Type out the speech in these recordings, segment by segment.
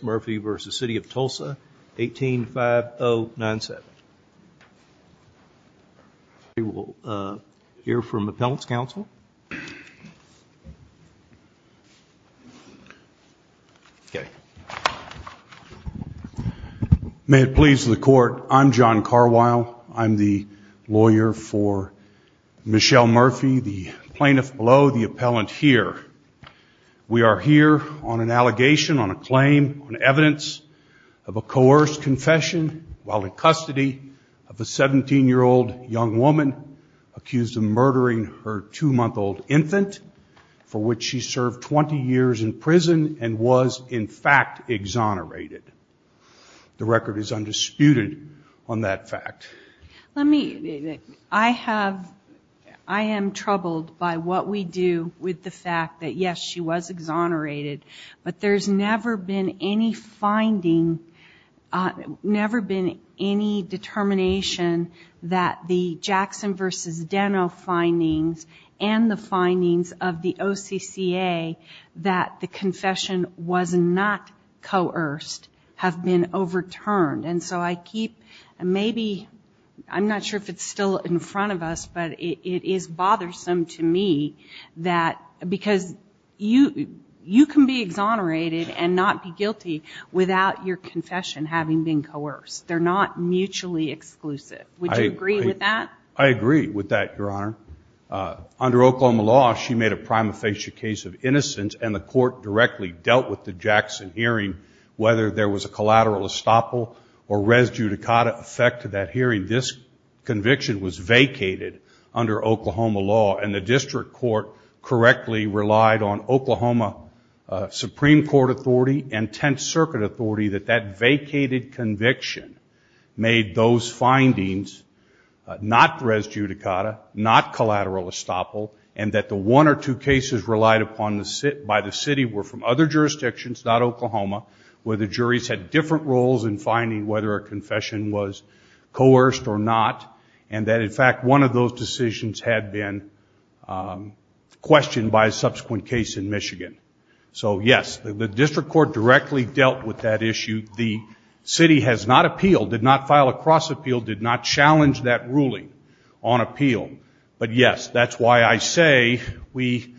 Murphy v. City of Tulsa, 18-5-0-9-7 We will hear from the Appellant's Counsel. May it please the Court, I'm John Carwile. I'm the lawyer for Michelle Murphy, the plaintiff below the Appellant here. We are here on an allegation, on a claim, on evidence of a coerced confession while in custody of a 17-year-old young woman accused of murdering her 2-month-old infant for which she served 20 years in prison and was, in fact, exonerated. The record is fact that, yes, she was exonerated, but there's never been any finding, never been any determination that the Jackson v. Deno findings and the findings of the OCCA that the confession was not coerced have been overturned. And so I keep, maybe, I'm not sure if it's still in me, that because you can be exonerated and not be guilty without your confession having been coerced. They're not mutually exclusive. Would you agree with that? I agree with that, Your Honor. Under Oklahoma law, she made a prima facie case of innocence and the Court directly dealt with the Jackson hearing, whether there was a collateral estoppel or res judicata effect to that hearing. This conviction was vacated under Oklahoma law and the District Court correctly relied on Oklahoma Supreme Court authority and Tenth Circuit authority that that vacated conviction made those findings not res judicata, not collateral estoppel, and that the one or two cases relied upon by the city were from other jurisdictions, not Oklahoma, where the juries had different roles in finding whether a confession was coerced or not, and that, in fact, one of those decisions had been questioned by a subsequent case in Michigan. So, yes, the District Court directly dealt with that issue. The city has not appealed, did not file a cross appeal, did not challenge that ruling on appeal. But, yes, that's why I say we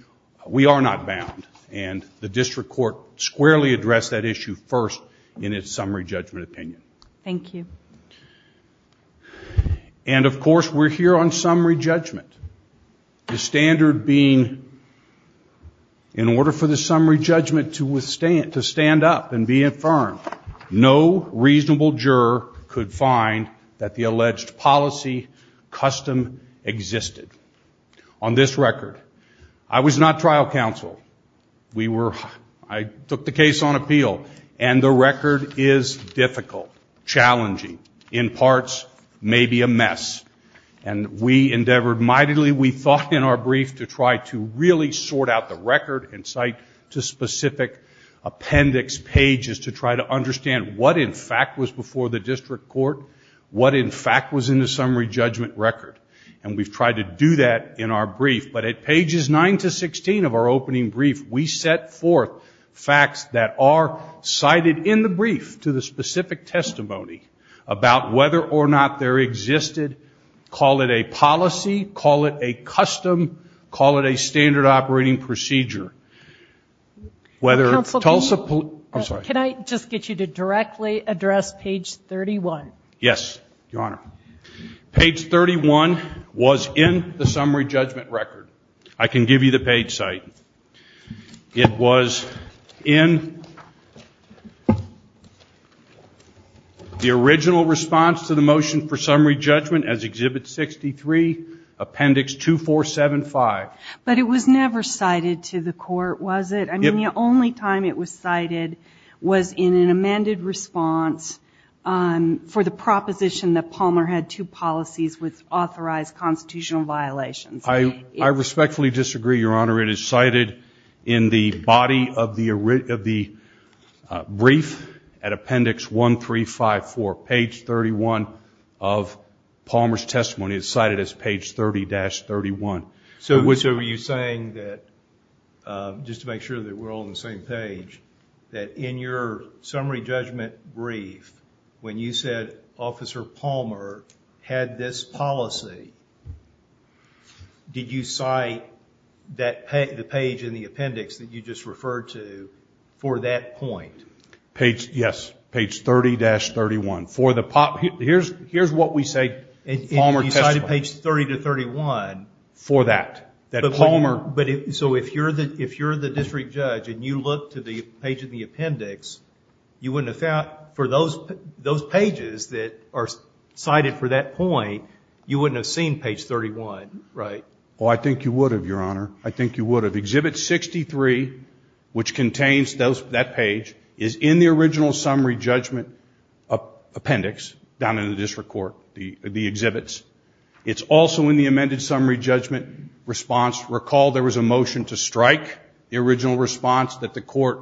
are not bound. And the District Court squarely addressed that issue first in its summary judgment opinion. Thank you. And, of course, we're here on summary judgment, the standard being in order for the summary judgment to withstand, to stand up and be infirmed, no reasonable juror could find that the alleged policy custom existed. On this record, I was not trial counsel. We were, I took the case on appeal, and the record is difficult, challenging, in parts, maybe a mess. And we endeavored mightily, we thought in our brief, to try to really sort out the record and cite to specific appendix pages to try to understand what, in fact, was before the District Court, what, in fact, was in the summary judgment record. And we've tried to do that in our briefing brief. We set forth facts that are cited in the brief to the specific testimony about whether or not there existed, call it a policy, call it a custom, call it a standard operating procedure. Whether Tulsa, I'm sorry. Can I just get you to directly address page 31? Yes, Your Honor. Page 31 was in the summary judgment record. I can give you the page site. It was in the original response to the motion for summary judgment as Exhibit 63, Appendix 2475. But it was never cited to the court, was it? I mean, the only time it was cited was in an amended response for the proposition that Palmer had two policies with authorized constitutional violations. I respectfully disagree, Your Honor. It is cited in the body of the brief at Appendix 1354, page 31 of Palmer's testimony. It's cited as page 30-31. So were you saying that, just to make sure that we're all on the same page, that in your summary judgment brief, when you said Officer Palmer had this policy, did you cite the page in the appendix that you just referred to for that point? Page, yes. Page 30-31. For the, here's what we say in Palmer's testimony. You cited page 30-31. For that. That Palmer. But so if you're the district judge and you look to the page in the appendix, you wouldn't have found, for those pages that are cited for that point, you wouldn't have seen page 31, right? Oh, I think you would have, Your Honor. I think you would have. Exhibit 63, which contains that page, is in the original summary judgment appendix down in the district court, the exhibits. It's also in the amended summary judgment response. Recall there was a motion to strike the original response that the court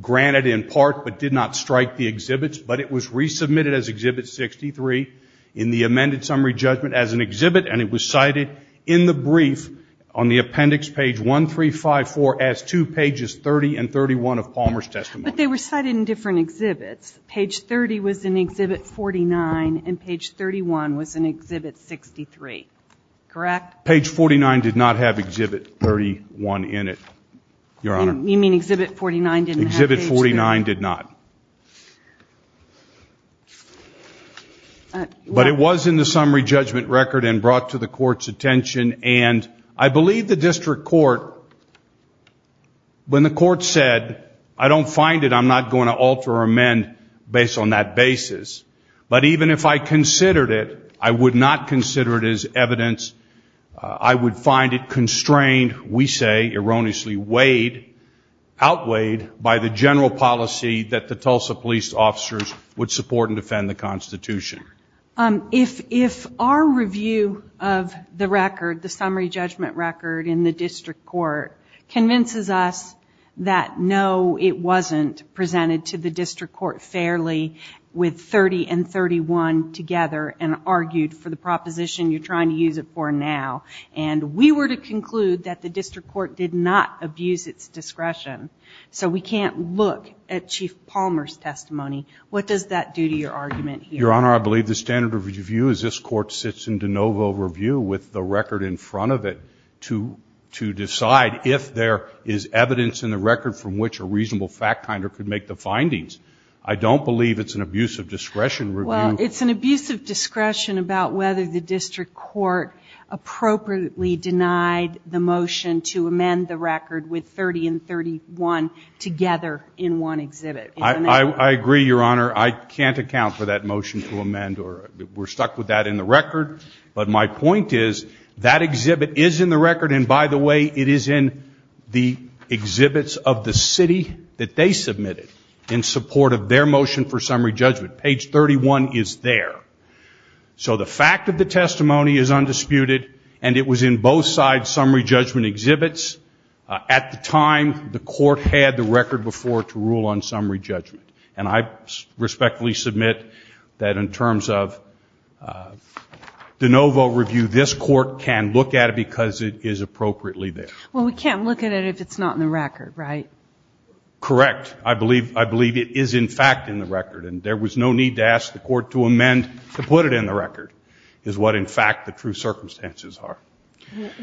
granted in part, but did not strike the exhibits. But it was resubmitted as Exhibit 63 in the amended summary judgment as an exhibit. And it was cited in the brief on the appendix, page 1354, as two pages 30 and 31 of Palmer's testimony. But they were cited in different exhibits. Page 30 was in Exhibit 49, and page 31 was in Exhibit 63, correct? Page 49 did not have Exhibit 31 in it, Your Honor. You mean Exhibit 49 didn't have page 31? Exhibit 49 did not. But it was in the summary judgment record and brought to the court's attention. And I believe the district court, when the court said, I don't find it, I'm not going to alter or amend based on that basis. But even if I considered it, I would not consider it as evidence. I would find it constrained, we say erroneously, outweighed by the general policy that the Tulsa police officers would support and defend the Constitution. If our review of the record, the summary judgment record in the district court convinces us that no, it wasn't presented to the district court fairly with 30 and 31 together and argued for the proposition you're trying to use it for now. And we were to conclude that the district court did not abuse its discretion. So we can't look at Chief Palmer's testimony. What does that do to your argument here? Your Honor, I believe the standard of review is this court sits in de novo review with the record in front of it to decide if there is evidence in the record from which a reasonable fact finder could make the findings. I don't believe it's an abuse of discretion review. Well, it's an abuse of discretion about whether the district court appropriately denied the motion to amend the record with 30 and 31 together in one exhibit. I agree, Your Honor. I can't account for that motion to amend or we're stuck with that in the record. But my point is that exhibit is in the record. And by the way, it is in the exhibits of the city that they submitted in support of their motion for summary judgment. Page 31 is there. So the fact of the testimony is undisputed. And it was in both sides summary judgment exhibits. At the time, the court had the record before to rule on summary judgment. And I respectfully submit that in terms of de novo review, this court can look at it because it is appropriately there. Well, we can't look at it if it's not in the record, right? Correct. I believe it is, in fact, in the record. And there was no need to ask the court to amend to put it in the record is what, in fact, the true circumstances are.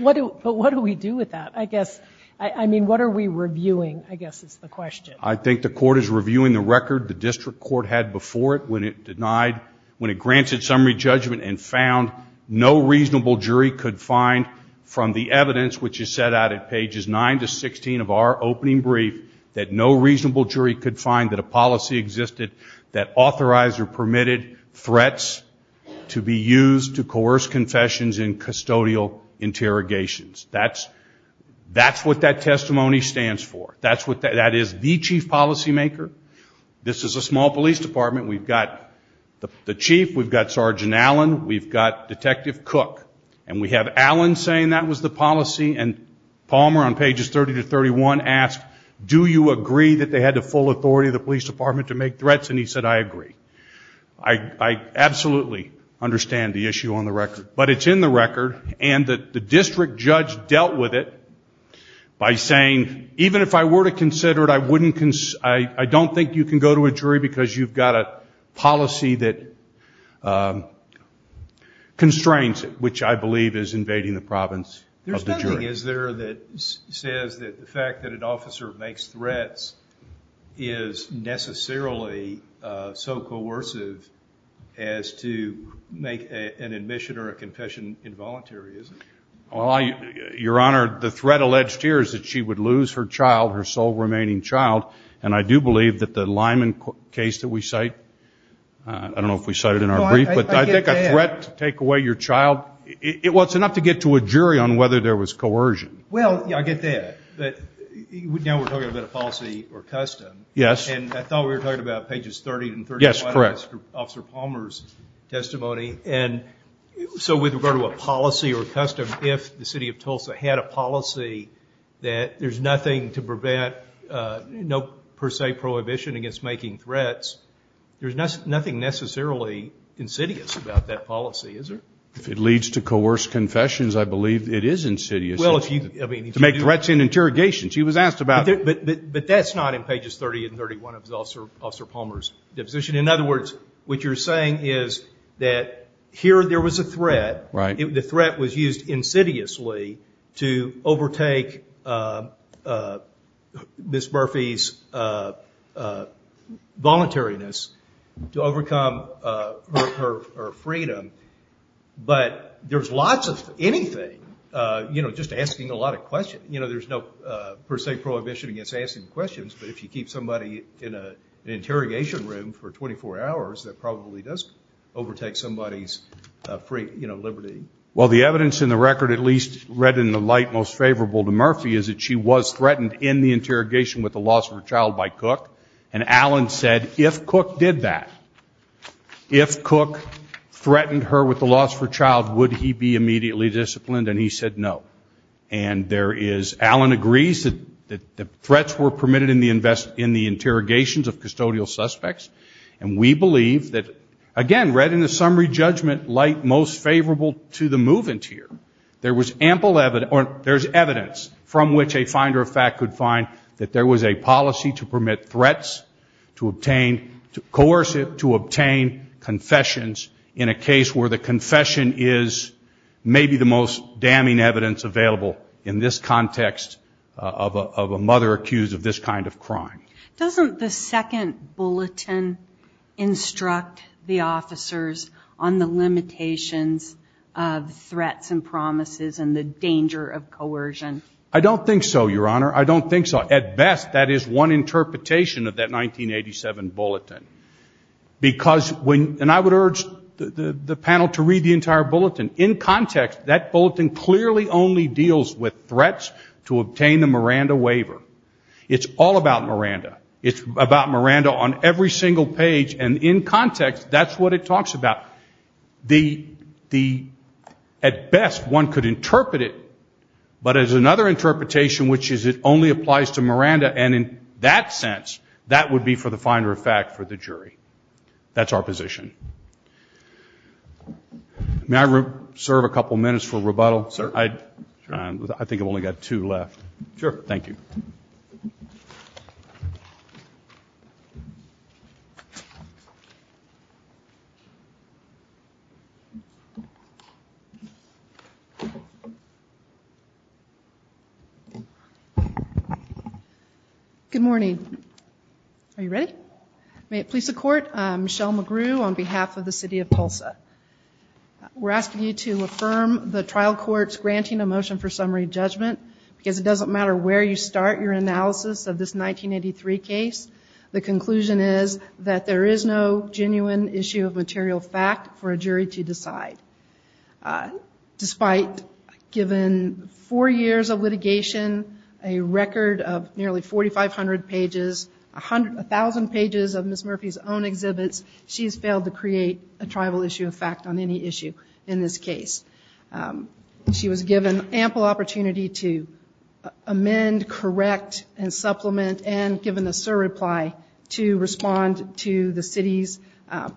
But what do we do with that? I guess, I mean, what are we reviewing, I guess, is the question. I think the court is reviewing the record the district court had before it when it denied, when it granted summary judgment and found no reasonable jury could find from the evidence, which is set out at pages 9 to 16 of our opening brief, that no reasonable jury could find that a policy existed that authorized or permitted threats to be used to coerce confessions in custodial interrogations. That's what that testimony stands for. That is the chief policymaker. This is a small police department. We've got the chief. We've got Sergeant Allen. We've got Detective Cook. And we have Allen saying that was the policy. And Palmer on pages 30 to 31 asked, do you agree that they had the full authority of the police department to make threats? And he said, I agree. I absolutely understand the issue on the record. But it's in the record. And the district judge dealt with it by saying, even if I were to consider it, I wouldn't, I don't think you can go to a jury because you've got a policy that constrains it, which I believe is invading the province of the jury. Is there that says that the fact that an officer makes threats is necessarily so coercive as to make an admission or a confession involuntary, is it? Well, Your Honor, the threat alleged here is that she would lose her child, her sole remaining child. And I do believe that the Lyman case that we cite, I don't know if we cite it in our brief, but I think a threat to take away your child, well, it's enough to get to a jury on whether there was coercion. Well, yeah, I get that. But now we're talking about a policy or custom. Yes. And I thought we were talking about pages 30 and 31 of Officer Palmer's testimony. And so with regard to a policy or custom, if the city of Tulsa had a policy that there's nothing to prevent, no per se prohibition against making threats, there's nothing necessarily insidious about that policy, is there? If it leads to coerced confessions, I believe it is insidious to make threats in interrogation. She was asked about it. But that's not in pages 30 and 31 of Officer Palmer's deposition. In other words, what you're saying is that here there was a threat. Right. The threat was used insidiously to overtake Ms. Murphy's voluntariness to overcome her freedom. But there's lots of anything, you know, just asking a lot of questions. You know, there's no per se prohibition against asking questions. But if you keep somebody in an interrogation room for 24 hours, that probably does overtake somebody's free, you know, liberty. Well, the evidence in the record, at least read in the light most favorable to Murphy, is that she was threatened in the interrogation with the loss of her child by Cook. And Allen said if Cook did that, if Cook threatened her with the loss of her child, would he be immediately disciplined? And he said no. And there is, Allen agrees that the threats were permitted in the interrogations of custodial suspects. And we believe that, again, read in the summary judgment light most favorable to the move-in tier, there was ample evidence, or there's evidence from which a finder of fact could find that there was a policy to permit threats to obtain, to coerce it to obtain confessions in a case where the confession is maybe the most damning evidence available in this context of a mother accused of this kind of crime. Doesn't the second bulletin instruct the officers on the limitations of threats and promises and the danger of coercion? I don't think so, Your Honor. I don't think so. At best, that is one interpretation of that 1987 bulletin. Because when, and I would urge the panel to read the entire bulletin. In context, that bulletin clearly only deals with threats to obtain the Miranda waiver. It's all about Miranda. It's about Miranda on every single page, and in context, that's what it talks about. The, at best, one could interpret it, but there's another interpretation, which is it only applies to Miranda, and in that sense, that would be for the finder of fact for the jury. That's our position. May I serve a couple minutes for rebuttal? Sir. I think I've only got two left. Sure. Thank you. Good morning. Are you ready? May it please the court, Michelle McGrew on behalf of the city of Tulsa. We're asking you to affirm the trial court's granting a motion for summary judgment, because it doesn't matter where you start your analysis of this 1983 case. The conclusion is that there is no genuine issue of material fact for a jury to decide. Despite given four years of litigation, a record of nearly 4,500 pages, a thousand pages of Ms. Murphy's own exhibits, she has failed to create a tribal issue of fact on any issue in this case. She was given ample opportunity to amend, correct, and supplement, and given the surreply, to respond to the city's,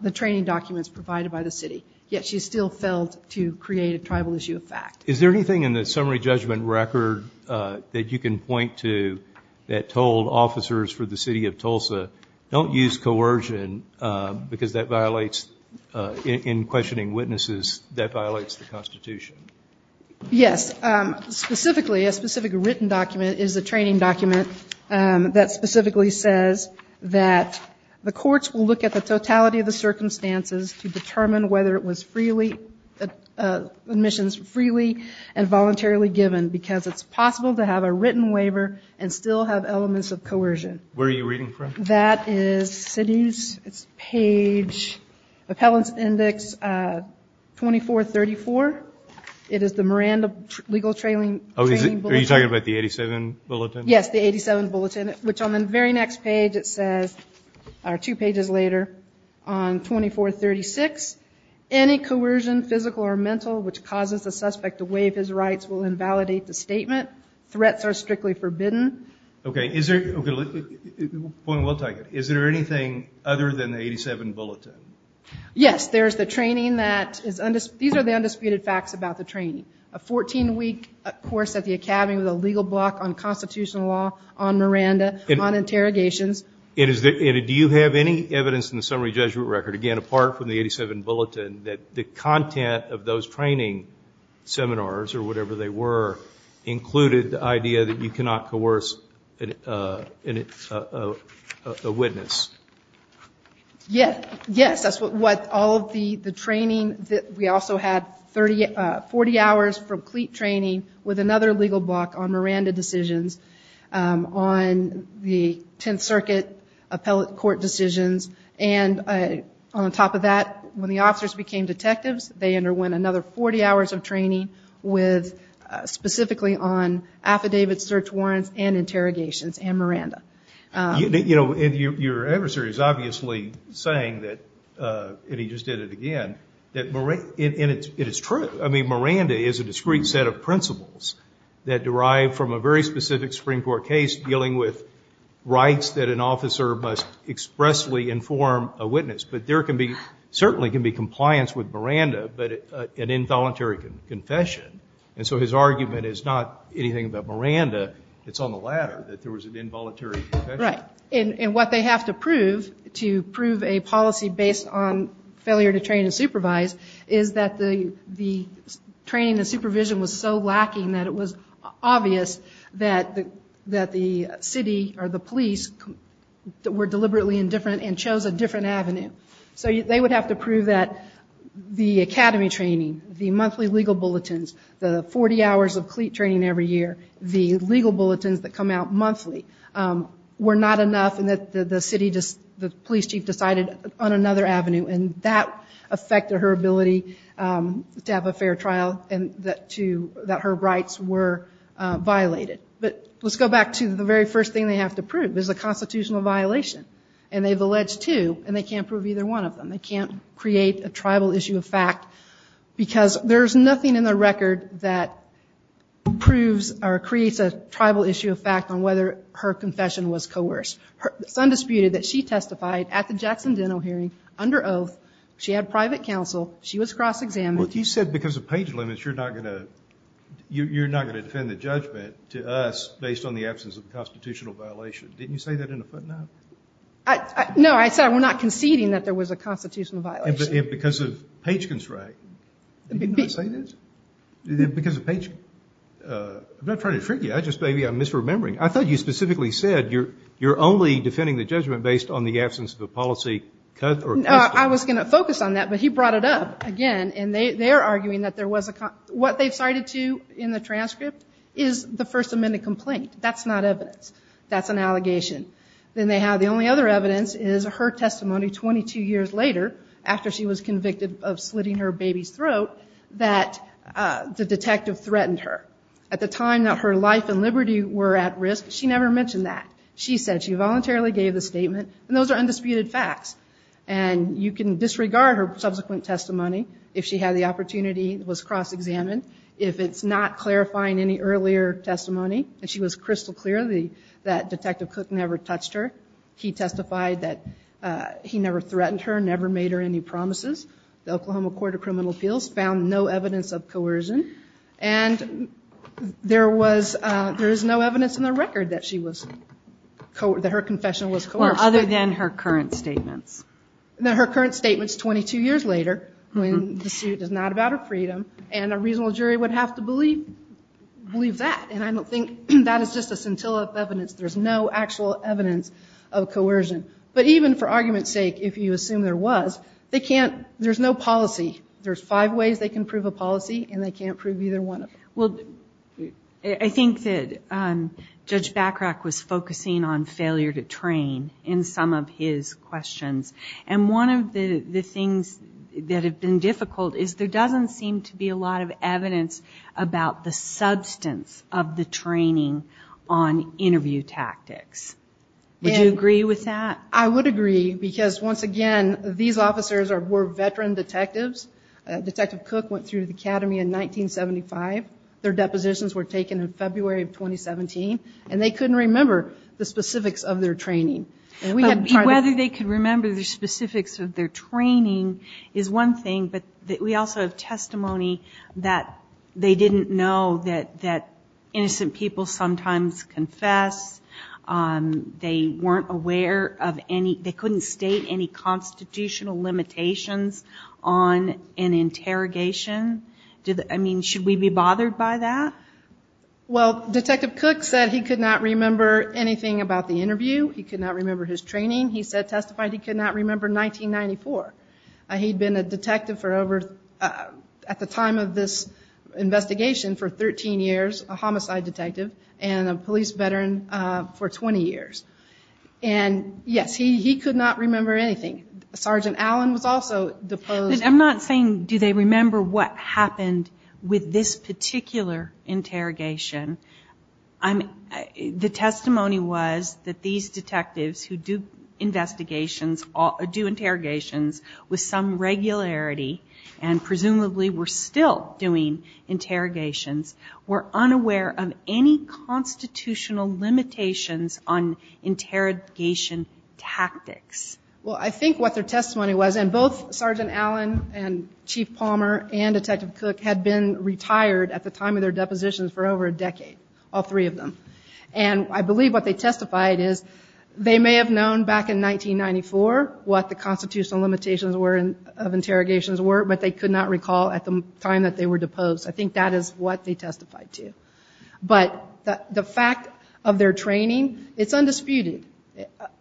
the training documents provided by the city. Yet she still failed to create a tribal issue of fact. Is there anything in the summary judgment record that you can point to that told officers for the city of Tulsa, don't use coercion, because that violates, in questioning witnesses, that violates the constitution? Yes. Yes. Specifically, a specific written document is a training document that specifically says that the courts will look at the totality of the circumstances to determine whether it was freely, admissions freely, and voluntarily given, because it's possible to have a written waiver and still have elements of coercion. Where are you reading from? That is city's, it's page, appellant's index 2434. It is the Miranda legal training bulletin. Are you talking about the 87 bulletin? Yes, the 87 bulletin, which on the very next page it says, or two pages later, on 2436, any coercion, physical or mental, which causes the suspect to waive his rights will invalidate the statement. Threats are strictly forbidden. Okay, is there, we'll take it. Is there anything other than the 87 bulletin? Yes, there's the training that is, these are the undisputed facts about the training. A 14 week course at the academy with a legal block on constitutional law, on Miranda, on interrogations. Do you have any evidence in the summary judgment record, again, apart from the 87 bulletin, that the content of those training seminars, or whatever they were, included the idea that you cannot coerce a witness? Yes, that's what all of the training, we also had 40 hours from cleat training with another legal block on Miranda decisions, on the 10th circuit appellate court decisions. And on top of that, when the officers became detectives, they underwent another 40 hours of training with, specifically on affidavit search warrants and interrogations and Miranda. You know, your adversary is obviously saying that, and he just did it again, that, and it's true. I mean, Miranda is a discrete set of principles that derive from a very specific Supreme Court case dealing with rights that an officer must expressly inform a witness. But there can be, certainly can be compliance with Miranda, but an involuntary confession. And so his argument is not anything about Miranda. It's on the latter, that there was an involuntary confession. Right. And what they have to prove, to prove a policy based on failure to train and supervise, is that the training and supervision was so lacking that it was obvious that the city, or the police, were deliberately indifferent and chose a different avenue. So they would have to prove that the academy training, the monthly legal bulletins, the 40 hours of cleat training every year, the legal bulletins that come out monthly, were not enough and that the city, the police chief, decided on another avenue. And that affected her ability to have a fair trial and that her rights were violated. But let's go back to the very first thing they have to prove is a constitutional violation. And they've alleged two and they can't prove either one of them. They can't create a tribal issue of fact because there's nothing in the record that proves or creates a tribal issue of fact on whether her confession was coerced. Her son disputed that she testified at the Jackson Dental Hearing under oath. She had private counsel. She was cross-examined. But you said because of page limits you're not going to, you're not going to defend the judgment to us based on the absence of a constitutional violation. Didn't you say that in a footnote? No, I said we're not conceding that there was a constitutional violation. And because of page constraint. Didn't I say this? Because of page, I'm not trying to trick you. I just maybe I'm misremembering. I thought you specifically said you're only defending the judgment based on the absence of a policy. I was going to focus on that, but he brought it up again. And they're arguing that there was a, what they've cited to in the transcript is the First Amendment complaint. That's not evidence. That's an allegation. Then they have the only other evidence is her testimony 22 years later, after she was convicted of slitting her baby's throat, that the detective threatened her. At the time that her life and liberty were at risk, she never mentioned that. She said she voluntarily gave the statement, and those are undisputed facts. And you can disregard her subsequent testimony if she had the opportunity, was cross-examined. If it's not clarifying any earlier testimony, and she was crystal clear that Detective Cook never touched her. He testified that he never threatened her, never made her any promises. The Oklahoma Court of Criminal Appeals found no evidence of coercion. And there was, there is no evidence in the record that she was, that her confession was coercive. Well, other than her current statements. Her current statements 22 years later, when the suit is not about her freedom, and a reasonable jury would have to believe that. And I don't think that is just a scintillant evidence. There's no actual evidence of coercion. But even for argument's sake, if you assume there was, they can't, there's no policy. There's five ways they can prove a policy, and they can't prove either one of them. Well, I think that Judge Bachrach was focusing on failure to train in some of his questions. And one of the things that have been difficult is there doesn't seem to be a lot of evidence about the substance of the training on interview tactics. Would you agree with that? I would agree, because once again, these officers were veteran detectives. Detective Cook went through the academy in 1975. Their depositions were taken in February of 2017. And they couldn't remember the specifics of their training. And we had tried to- Whether they could remember the specifics of their training is one thing. But we also have testimony that they didn't know that innocent people sometimes confess. They weren't aware of any, they couldn't state any constitutional limitations on an interrogation. I mean, should we be bothered by that? Well, Detective Cook said he could not remember anything about the interview. He could not remember his training. He testified he could not remember 1994. He'd been a detective for over, at the time of this investigation, for 13 years, a homicide detective. And a police veteran for 20 years. And yes, he could not remember anything. Sergeant Allen was also deposed. I'm not saying, do they remember what happened with this particular interrogation. The testimony was that these detectives who do interrogations with some regularity, and presumably were still doing interrogations, were unaware of any constitutional limitations on interrogation tactics. Well, I think what their testimony was, and both Sergeant Allen and Chief Palmer and Detective Cook had been retired at the time of their depositions for over a decade. All three of them. And I believe what they testified is they may have known back in 1994 what the constitutional limitations of interrogations were, but they could not recall at the time that they were deposed. I think that is what they testified to. But the fact of their training, it's undisputed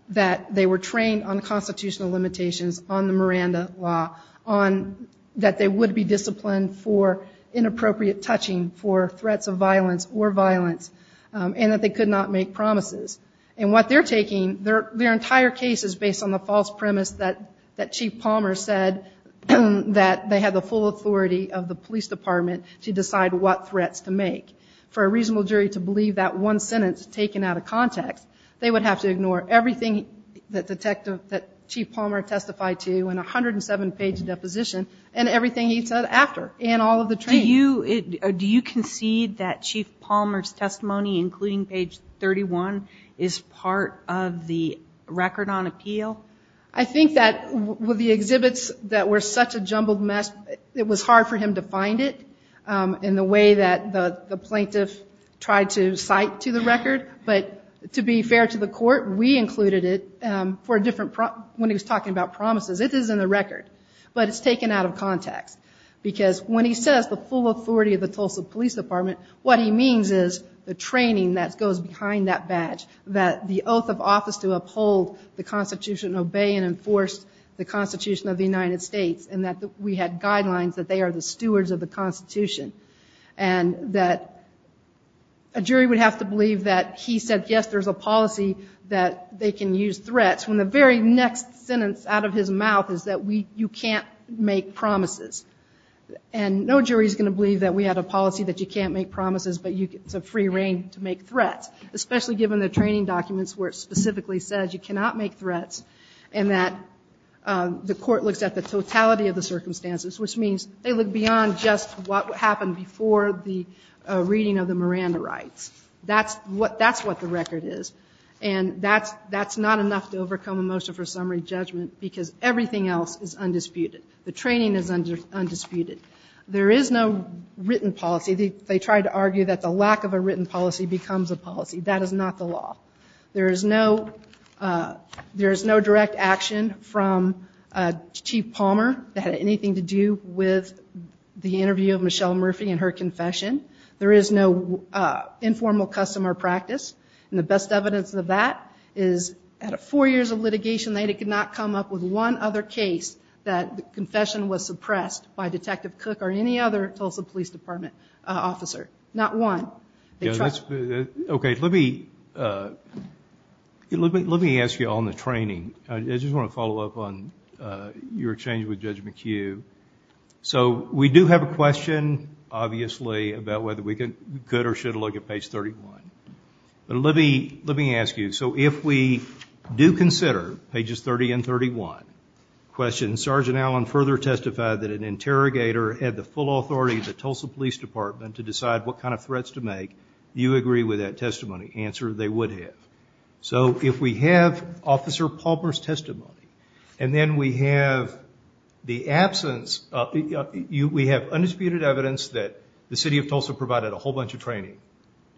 that they were trained on constitutional limitations, on the Miranda Law, on that they would be disciplined for inappropriate touching, for threats of violence or violence, and that they could not make promises. And what they're taking, their entire case is based on the false premise that Chief Palmer said that they had the full authority of the police department to decide what threats to make. For a reasonable jury to believe that one sentence taken out of context, they would have to ignore everything that Chief Palmer testified to in a 107-page deposition, and everything he said after, and all of the training. Do you concede that Chief Palmer's testimony, including page 31, is part of the record on appeal? I think that with the exhibits that were such a jumbled mess, it was hard for him to find it in the way that the plaintiff tried to cite to the record. But to be fair to the court, we included it for a different— when he was talking about promises, it is in the record. But it's taken out of context. Because when he says the full authority of the Tulsa Police Department, what he means is the training that goes behind that badge. That the oath of office to uphold the Constitution, obey and enforce the Constitution of the United States, and that we had guidelines that they are the stewards of the Constitution. And that a jury would have to believe that he said, yes, there's a policy that they can use threats, when the very next sentence out of his mouth is that you can't make promises. And no jury is going to believe that we had a policy that you can't make promises, but it's a free rein to make threats. Especially given the training documents where it specifically says you cannot make threats, and that the court looks at the totality of the circumstances, which means they look beyond just what happened before the reading of the Miranda rights. That's what the record is. And that's not enough to overcome a motion for summary judgment, because everything else is undisputed. The training is undisputed. There is no written policy. They try to argue that the lack of a written policy becomes a policy. That is not the law. There is no direct action from Chief Palmer that had anything to do with the interview of Michelle Murphy and her confession. There is no informal customer practice. And the best evidence of that is at four years of litigation, they could not come up with one other case that the confession was suppressed by Detective Cook or any other Tulsa Police Department officer. Not one. They tried. Okay, let me ask you on the training. I just want to follow up on your change with Judge McHugh. So we do have a question, obviously, about whether we could or should look at page 31. But let me ask you, so if we do consider pages 30 and 31, question, Sergeant Allen further testified that an interrogator had the full authority of the Tulsa Police Department to decide what kind of threats to make. Do you agree with that testimony? Answer, they would have. So if we have Officer Palmer's testimony, and then we have the absence, we have undisputed evidence that the City of Tulsa provided a whole bunch of training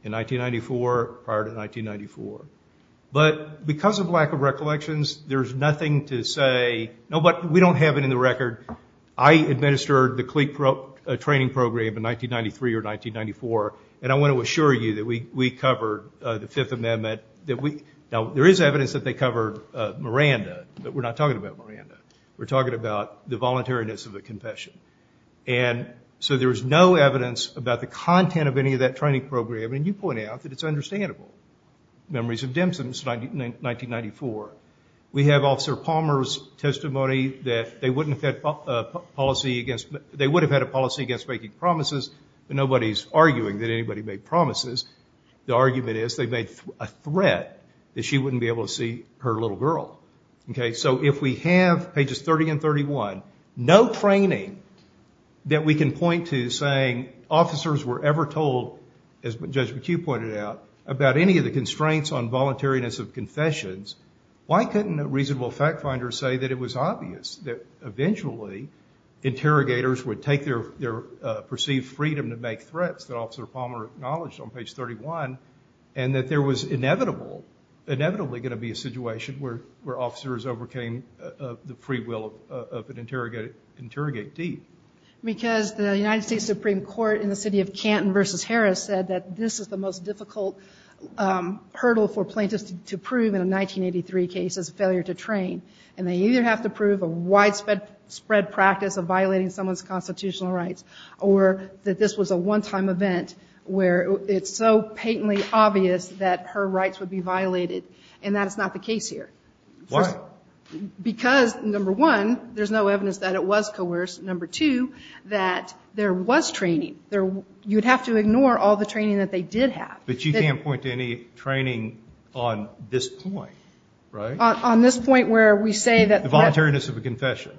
in 1994, prior to 1994. But because of lack of recollections, there's nothing to say, no, but we don't have it in the record. I administered the CLEAP training program in 1993 or 1994, and I want to assure you that we covered the Fifth Amendment. Now, there is evidence that they covered Miranda, but we're not talking about Miranda. We're talking about the voluntariness of a confession. And so there's no evidence about the content of any of that training program, and you point out that it's understandable. Memories of Dempson, it's 1994. We have Officer Palmer's testimony that they wouldn't have had policy against, they would have had a policy against breaking promises, but the argument is they made a threat that she wouldn't be able to see her little girl. Okay, so if we have pages 30 and 31, no training that we can point to saying, officers were ever told, as Judge McHugh pointed out, about any of the constraints on voluntariness of confessions, why couldn't a reasonable fact finder say that it was obvious that eventually interrogators would take their perceived freedom to make threats that Officer Palmer acknowledged on page 31, and that there was inevitable, inevitably going to be a situation where officers overcame the free will of an interrogateee. Because the United States Supreme Court in the city of Canton versus Harris said that this is the most difficult hurdle for plaintiffs to prove in a 1983 case, is a failure to train. And they either have to prove a widespread practice of violating someone's where it's so patently obvious that her rights would be violated. And that is not the case here. Why? Because, number one, there's no evidence that it was coerced. Number two, that there was training. You'd have to ignore all the training that they did have. But you can't point to any training on this point, right? On this point where we say that- The voluntariness of a confession.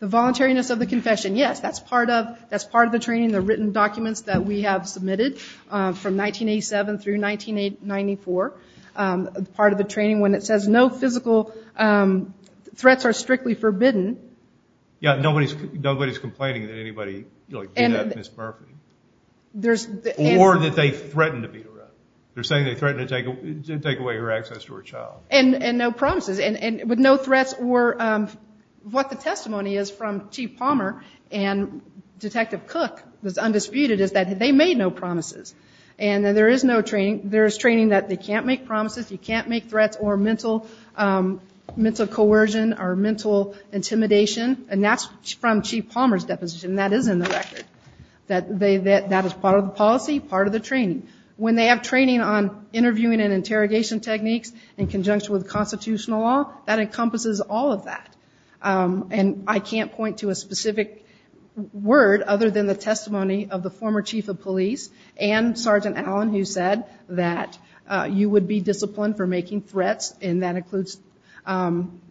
The voluntariness of the confession, yes, that's part of the training. The written documents that we have submitted from 1987 through 1994, part of the training when it says no physical threats are strictly forbidden. Yeah, nobody's complaining that anybody beat up Ms. Murphy. There's- Or that they threatened to beat her up. They're saying they threatened to take away her access to her child. And no promises. And with no threats or what the testimony is from Chief Palmer and Detective Cook that's undisputed is that they made no promises. And there is training that they can't make promises, you can't make threats or mental coercion or mental intimidation. And that's from Chief Palmer's deposition. That is in the record. That is part of the policy, part of the training. When they have training on interviewing and interrogation techniques in conjunction with constitutional law, that encompasses all of that. And I can't point to a specific word other than the testimony of the former Chief of Police and Sergeant Allen who said that you would be disciplined for making threats and that includes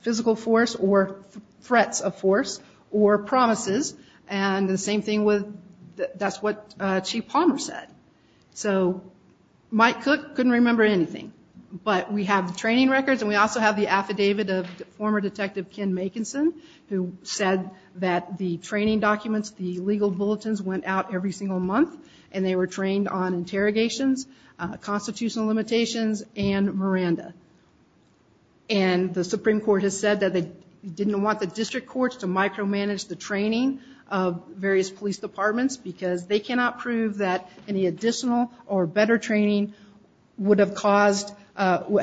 physical force or threats of force or promises. And the same thing with- that's what Chief Palmer said. So Mike Cook couldn't remember anything. But we have the training records and we also have the affidavit of former Detective Ken Makinson who said that the training documents, the legal bulletins went out every single month and they were trained on interrogations, constitutional limitations and Miranda. And the Supreme Court has said that they didn't want the district courts to micromanage the training of various police departments because they cannot prove that any additional or better training would have caused- And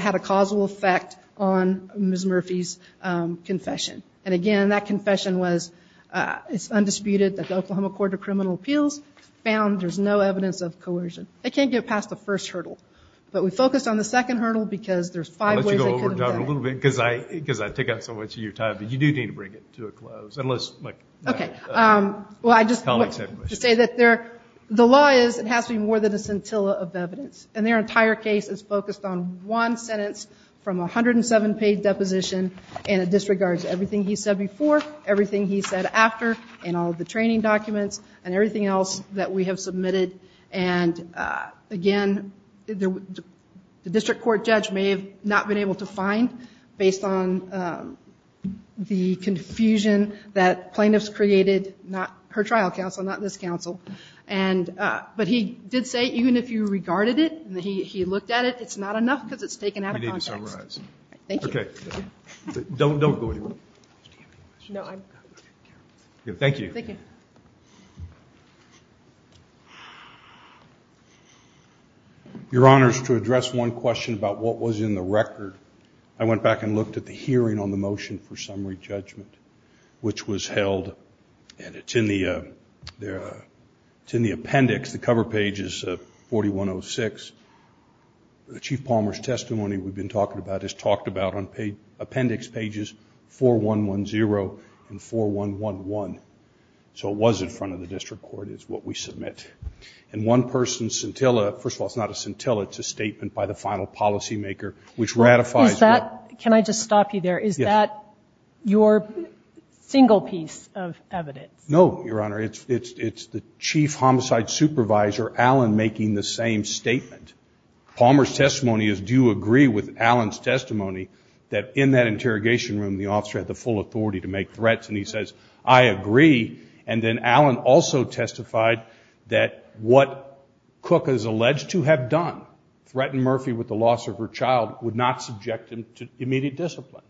again, that confession was- it's undisputed that the Oklahoma Court of Criminal Appeals found there's no evidence of coercion. They can't get past the first hurdle. But we focused on the second hurdle because there's five ways- I'll let you go over it a little bit because I take up so much of your time. But you do need to bring it to a close. Unless, like- Okay. Well, I just wanted to say that there- the law is it has to be more than a scintilla of evidence. And their entire case is focused on one sentence from a 107-page deposition and it disregards everything he said before, everything he said after, and all of the training documents and everything else that we have submitted. And again, the district court judge may have not been able to find based on the confusion that plaintiffs created, not her trial counsel, not this counsel. And- but he did say even if you regarded it and he looked at it, it's not enough because it's taken out of context. We need to summarize. Thank you. Okay. Don't go anywhere. No, I'm- Thank you. Thank you. Your Honors, to address one question about what was in the record, I went back and looked at the hearing on the motion for summary judgment, which was held and it's in the- it's in the appendix, the cover page is 4106. The Chief Palmer's testimony we've been talking about is talked about on appendix pages 4110 and 4111. So it was in front of the district court is what we submit. And one person's scintilla- first of all, it's not a scintilla, it's a statement by the final policymaker, which ratifies- Is that- can I just stop you there? Yes. Is that your single piece of evidence? No, Your Honor. It's the Chief Homicide Supervisor, Alan, making the same statement. Palmer's testimony is, do you agree with Alan's testimony that in that interrogation room, the officer had the full authority to make threats? And he says, I agree. And then Alan also testified that what Cook is alleged to have done, threatened Murphy with the loss of her child, would not subject him to immediate discipline.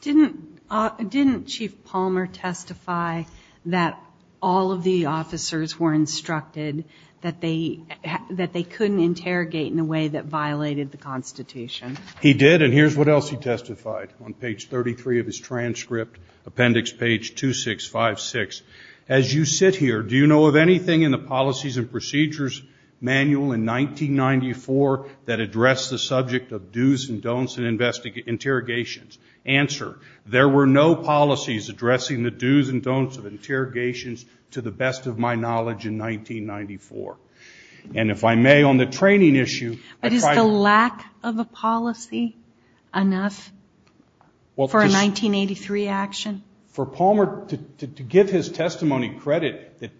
Didn't Chief Palmer testify that all of the officers were instructed that they couldn't interrogate in a way that violated the Constitution? He did, and here's what else he testified on page 33 of his transcript, appendix page 2656. As you sit here, do you know of anything in the Policies and Procedures Manual in 1994 that addressed the subject of do's and don'ts in interrogations? Answer, there were no policies addressing the do's and don'ts of interrogations to the best of my knowledge in 1994. And if I may, on the training issue- But is the lack of a policy enough for a 1983 action? For Palmer, to give his testimony credit that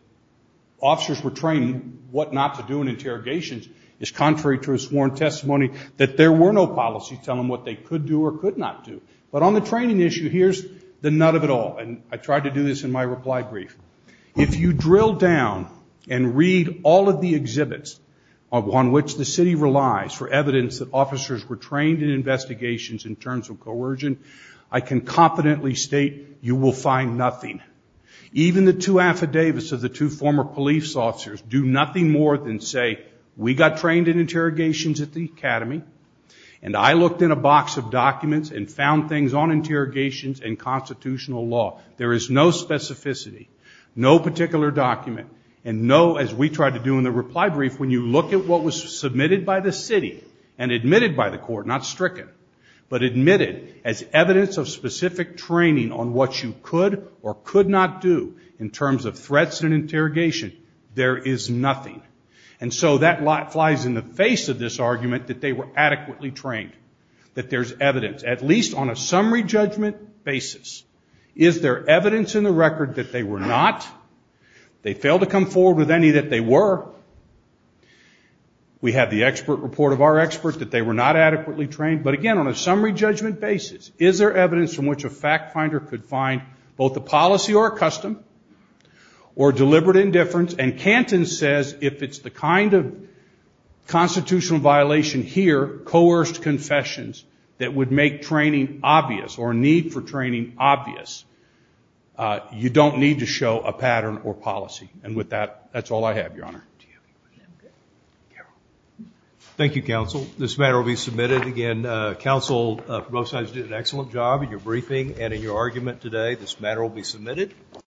officers were trained what not to do in interrogations is contrary to his sworn testimony that there were no policies telling him what they could do or could not do. But on the training issue, here's the nut of it all. And I tried to do this in my reply brief. If you drill down and read all of the exhibits on which the city relies for evidence that officers were trained in investigations in terms of coercion, I can confidently state you will find nothing. Even the two affidavits of the two former police officers do nothing more than say, we got trained in interrogations at the academy and I looked in a box of documents and found things on interrogations and constitutional law. There is no specificity, no particular document, and no, as we tried to do in the reply brief, when you look at what was submitted by the city and admitted by the court, not stricken, but admitted as evidence of specific training on what you could or could not do in terms of threats and interrogation, there is nothing. And so that flies in the face of this argument that they were adequately trained, that there's evidence, at least on a summary judgment basis. Is there evidence in the record that they were not? They failed to come forward with any that they were. We have the expert report of our experts that they were not adequately trained. But again, on a summary judgment basis, is there evidence from which a fact finder could find both a policy or a custom or deliberate indifference, and Canton says if it's the kind of constitutional violation here, coerced confessions that would make training obvious or a need for training obvious, you don't need to show a pattern or policy. And with that, that's all I have, Your Honor. Thank you, Counsel. This matter will be submitted again. Counsel, both sides did an excellent job in your briefing and in your argument today, this matter will be submitted.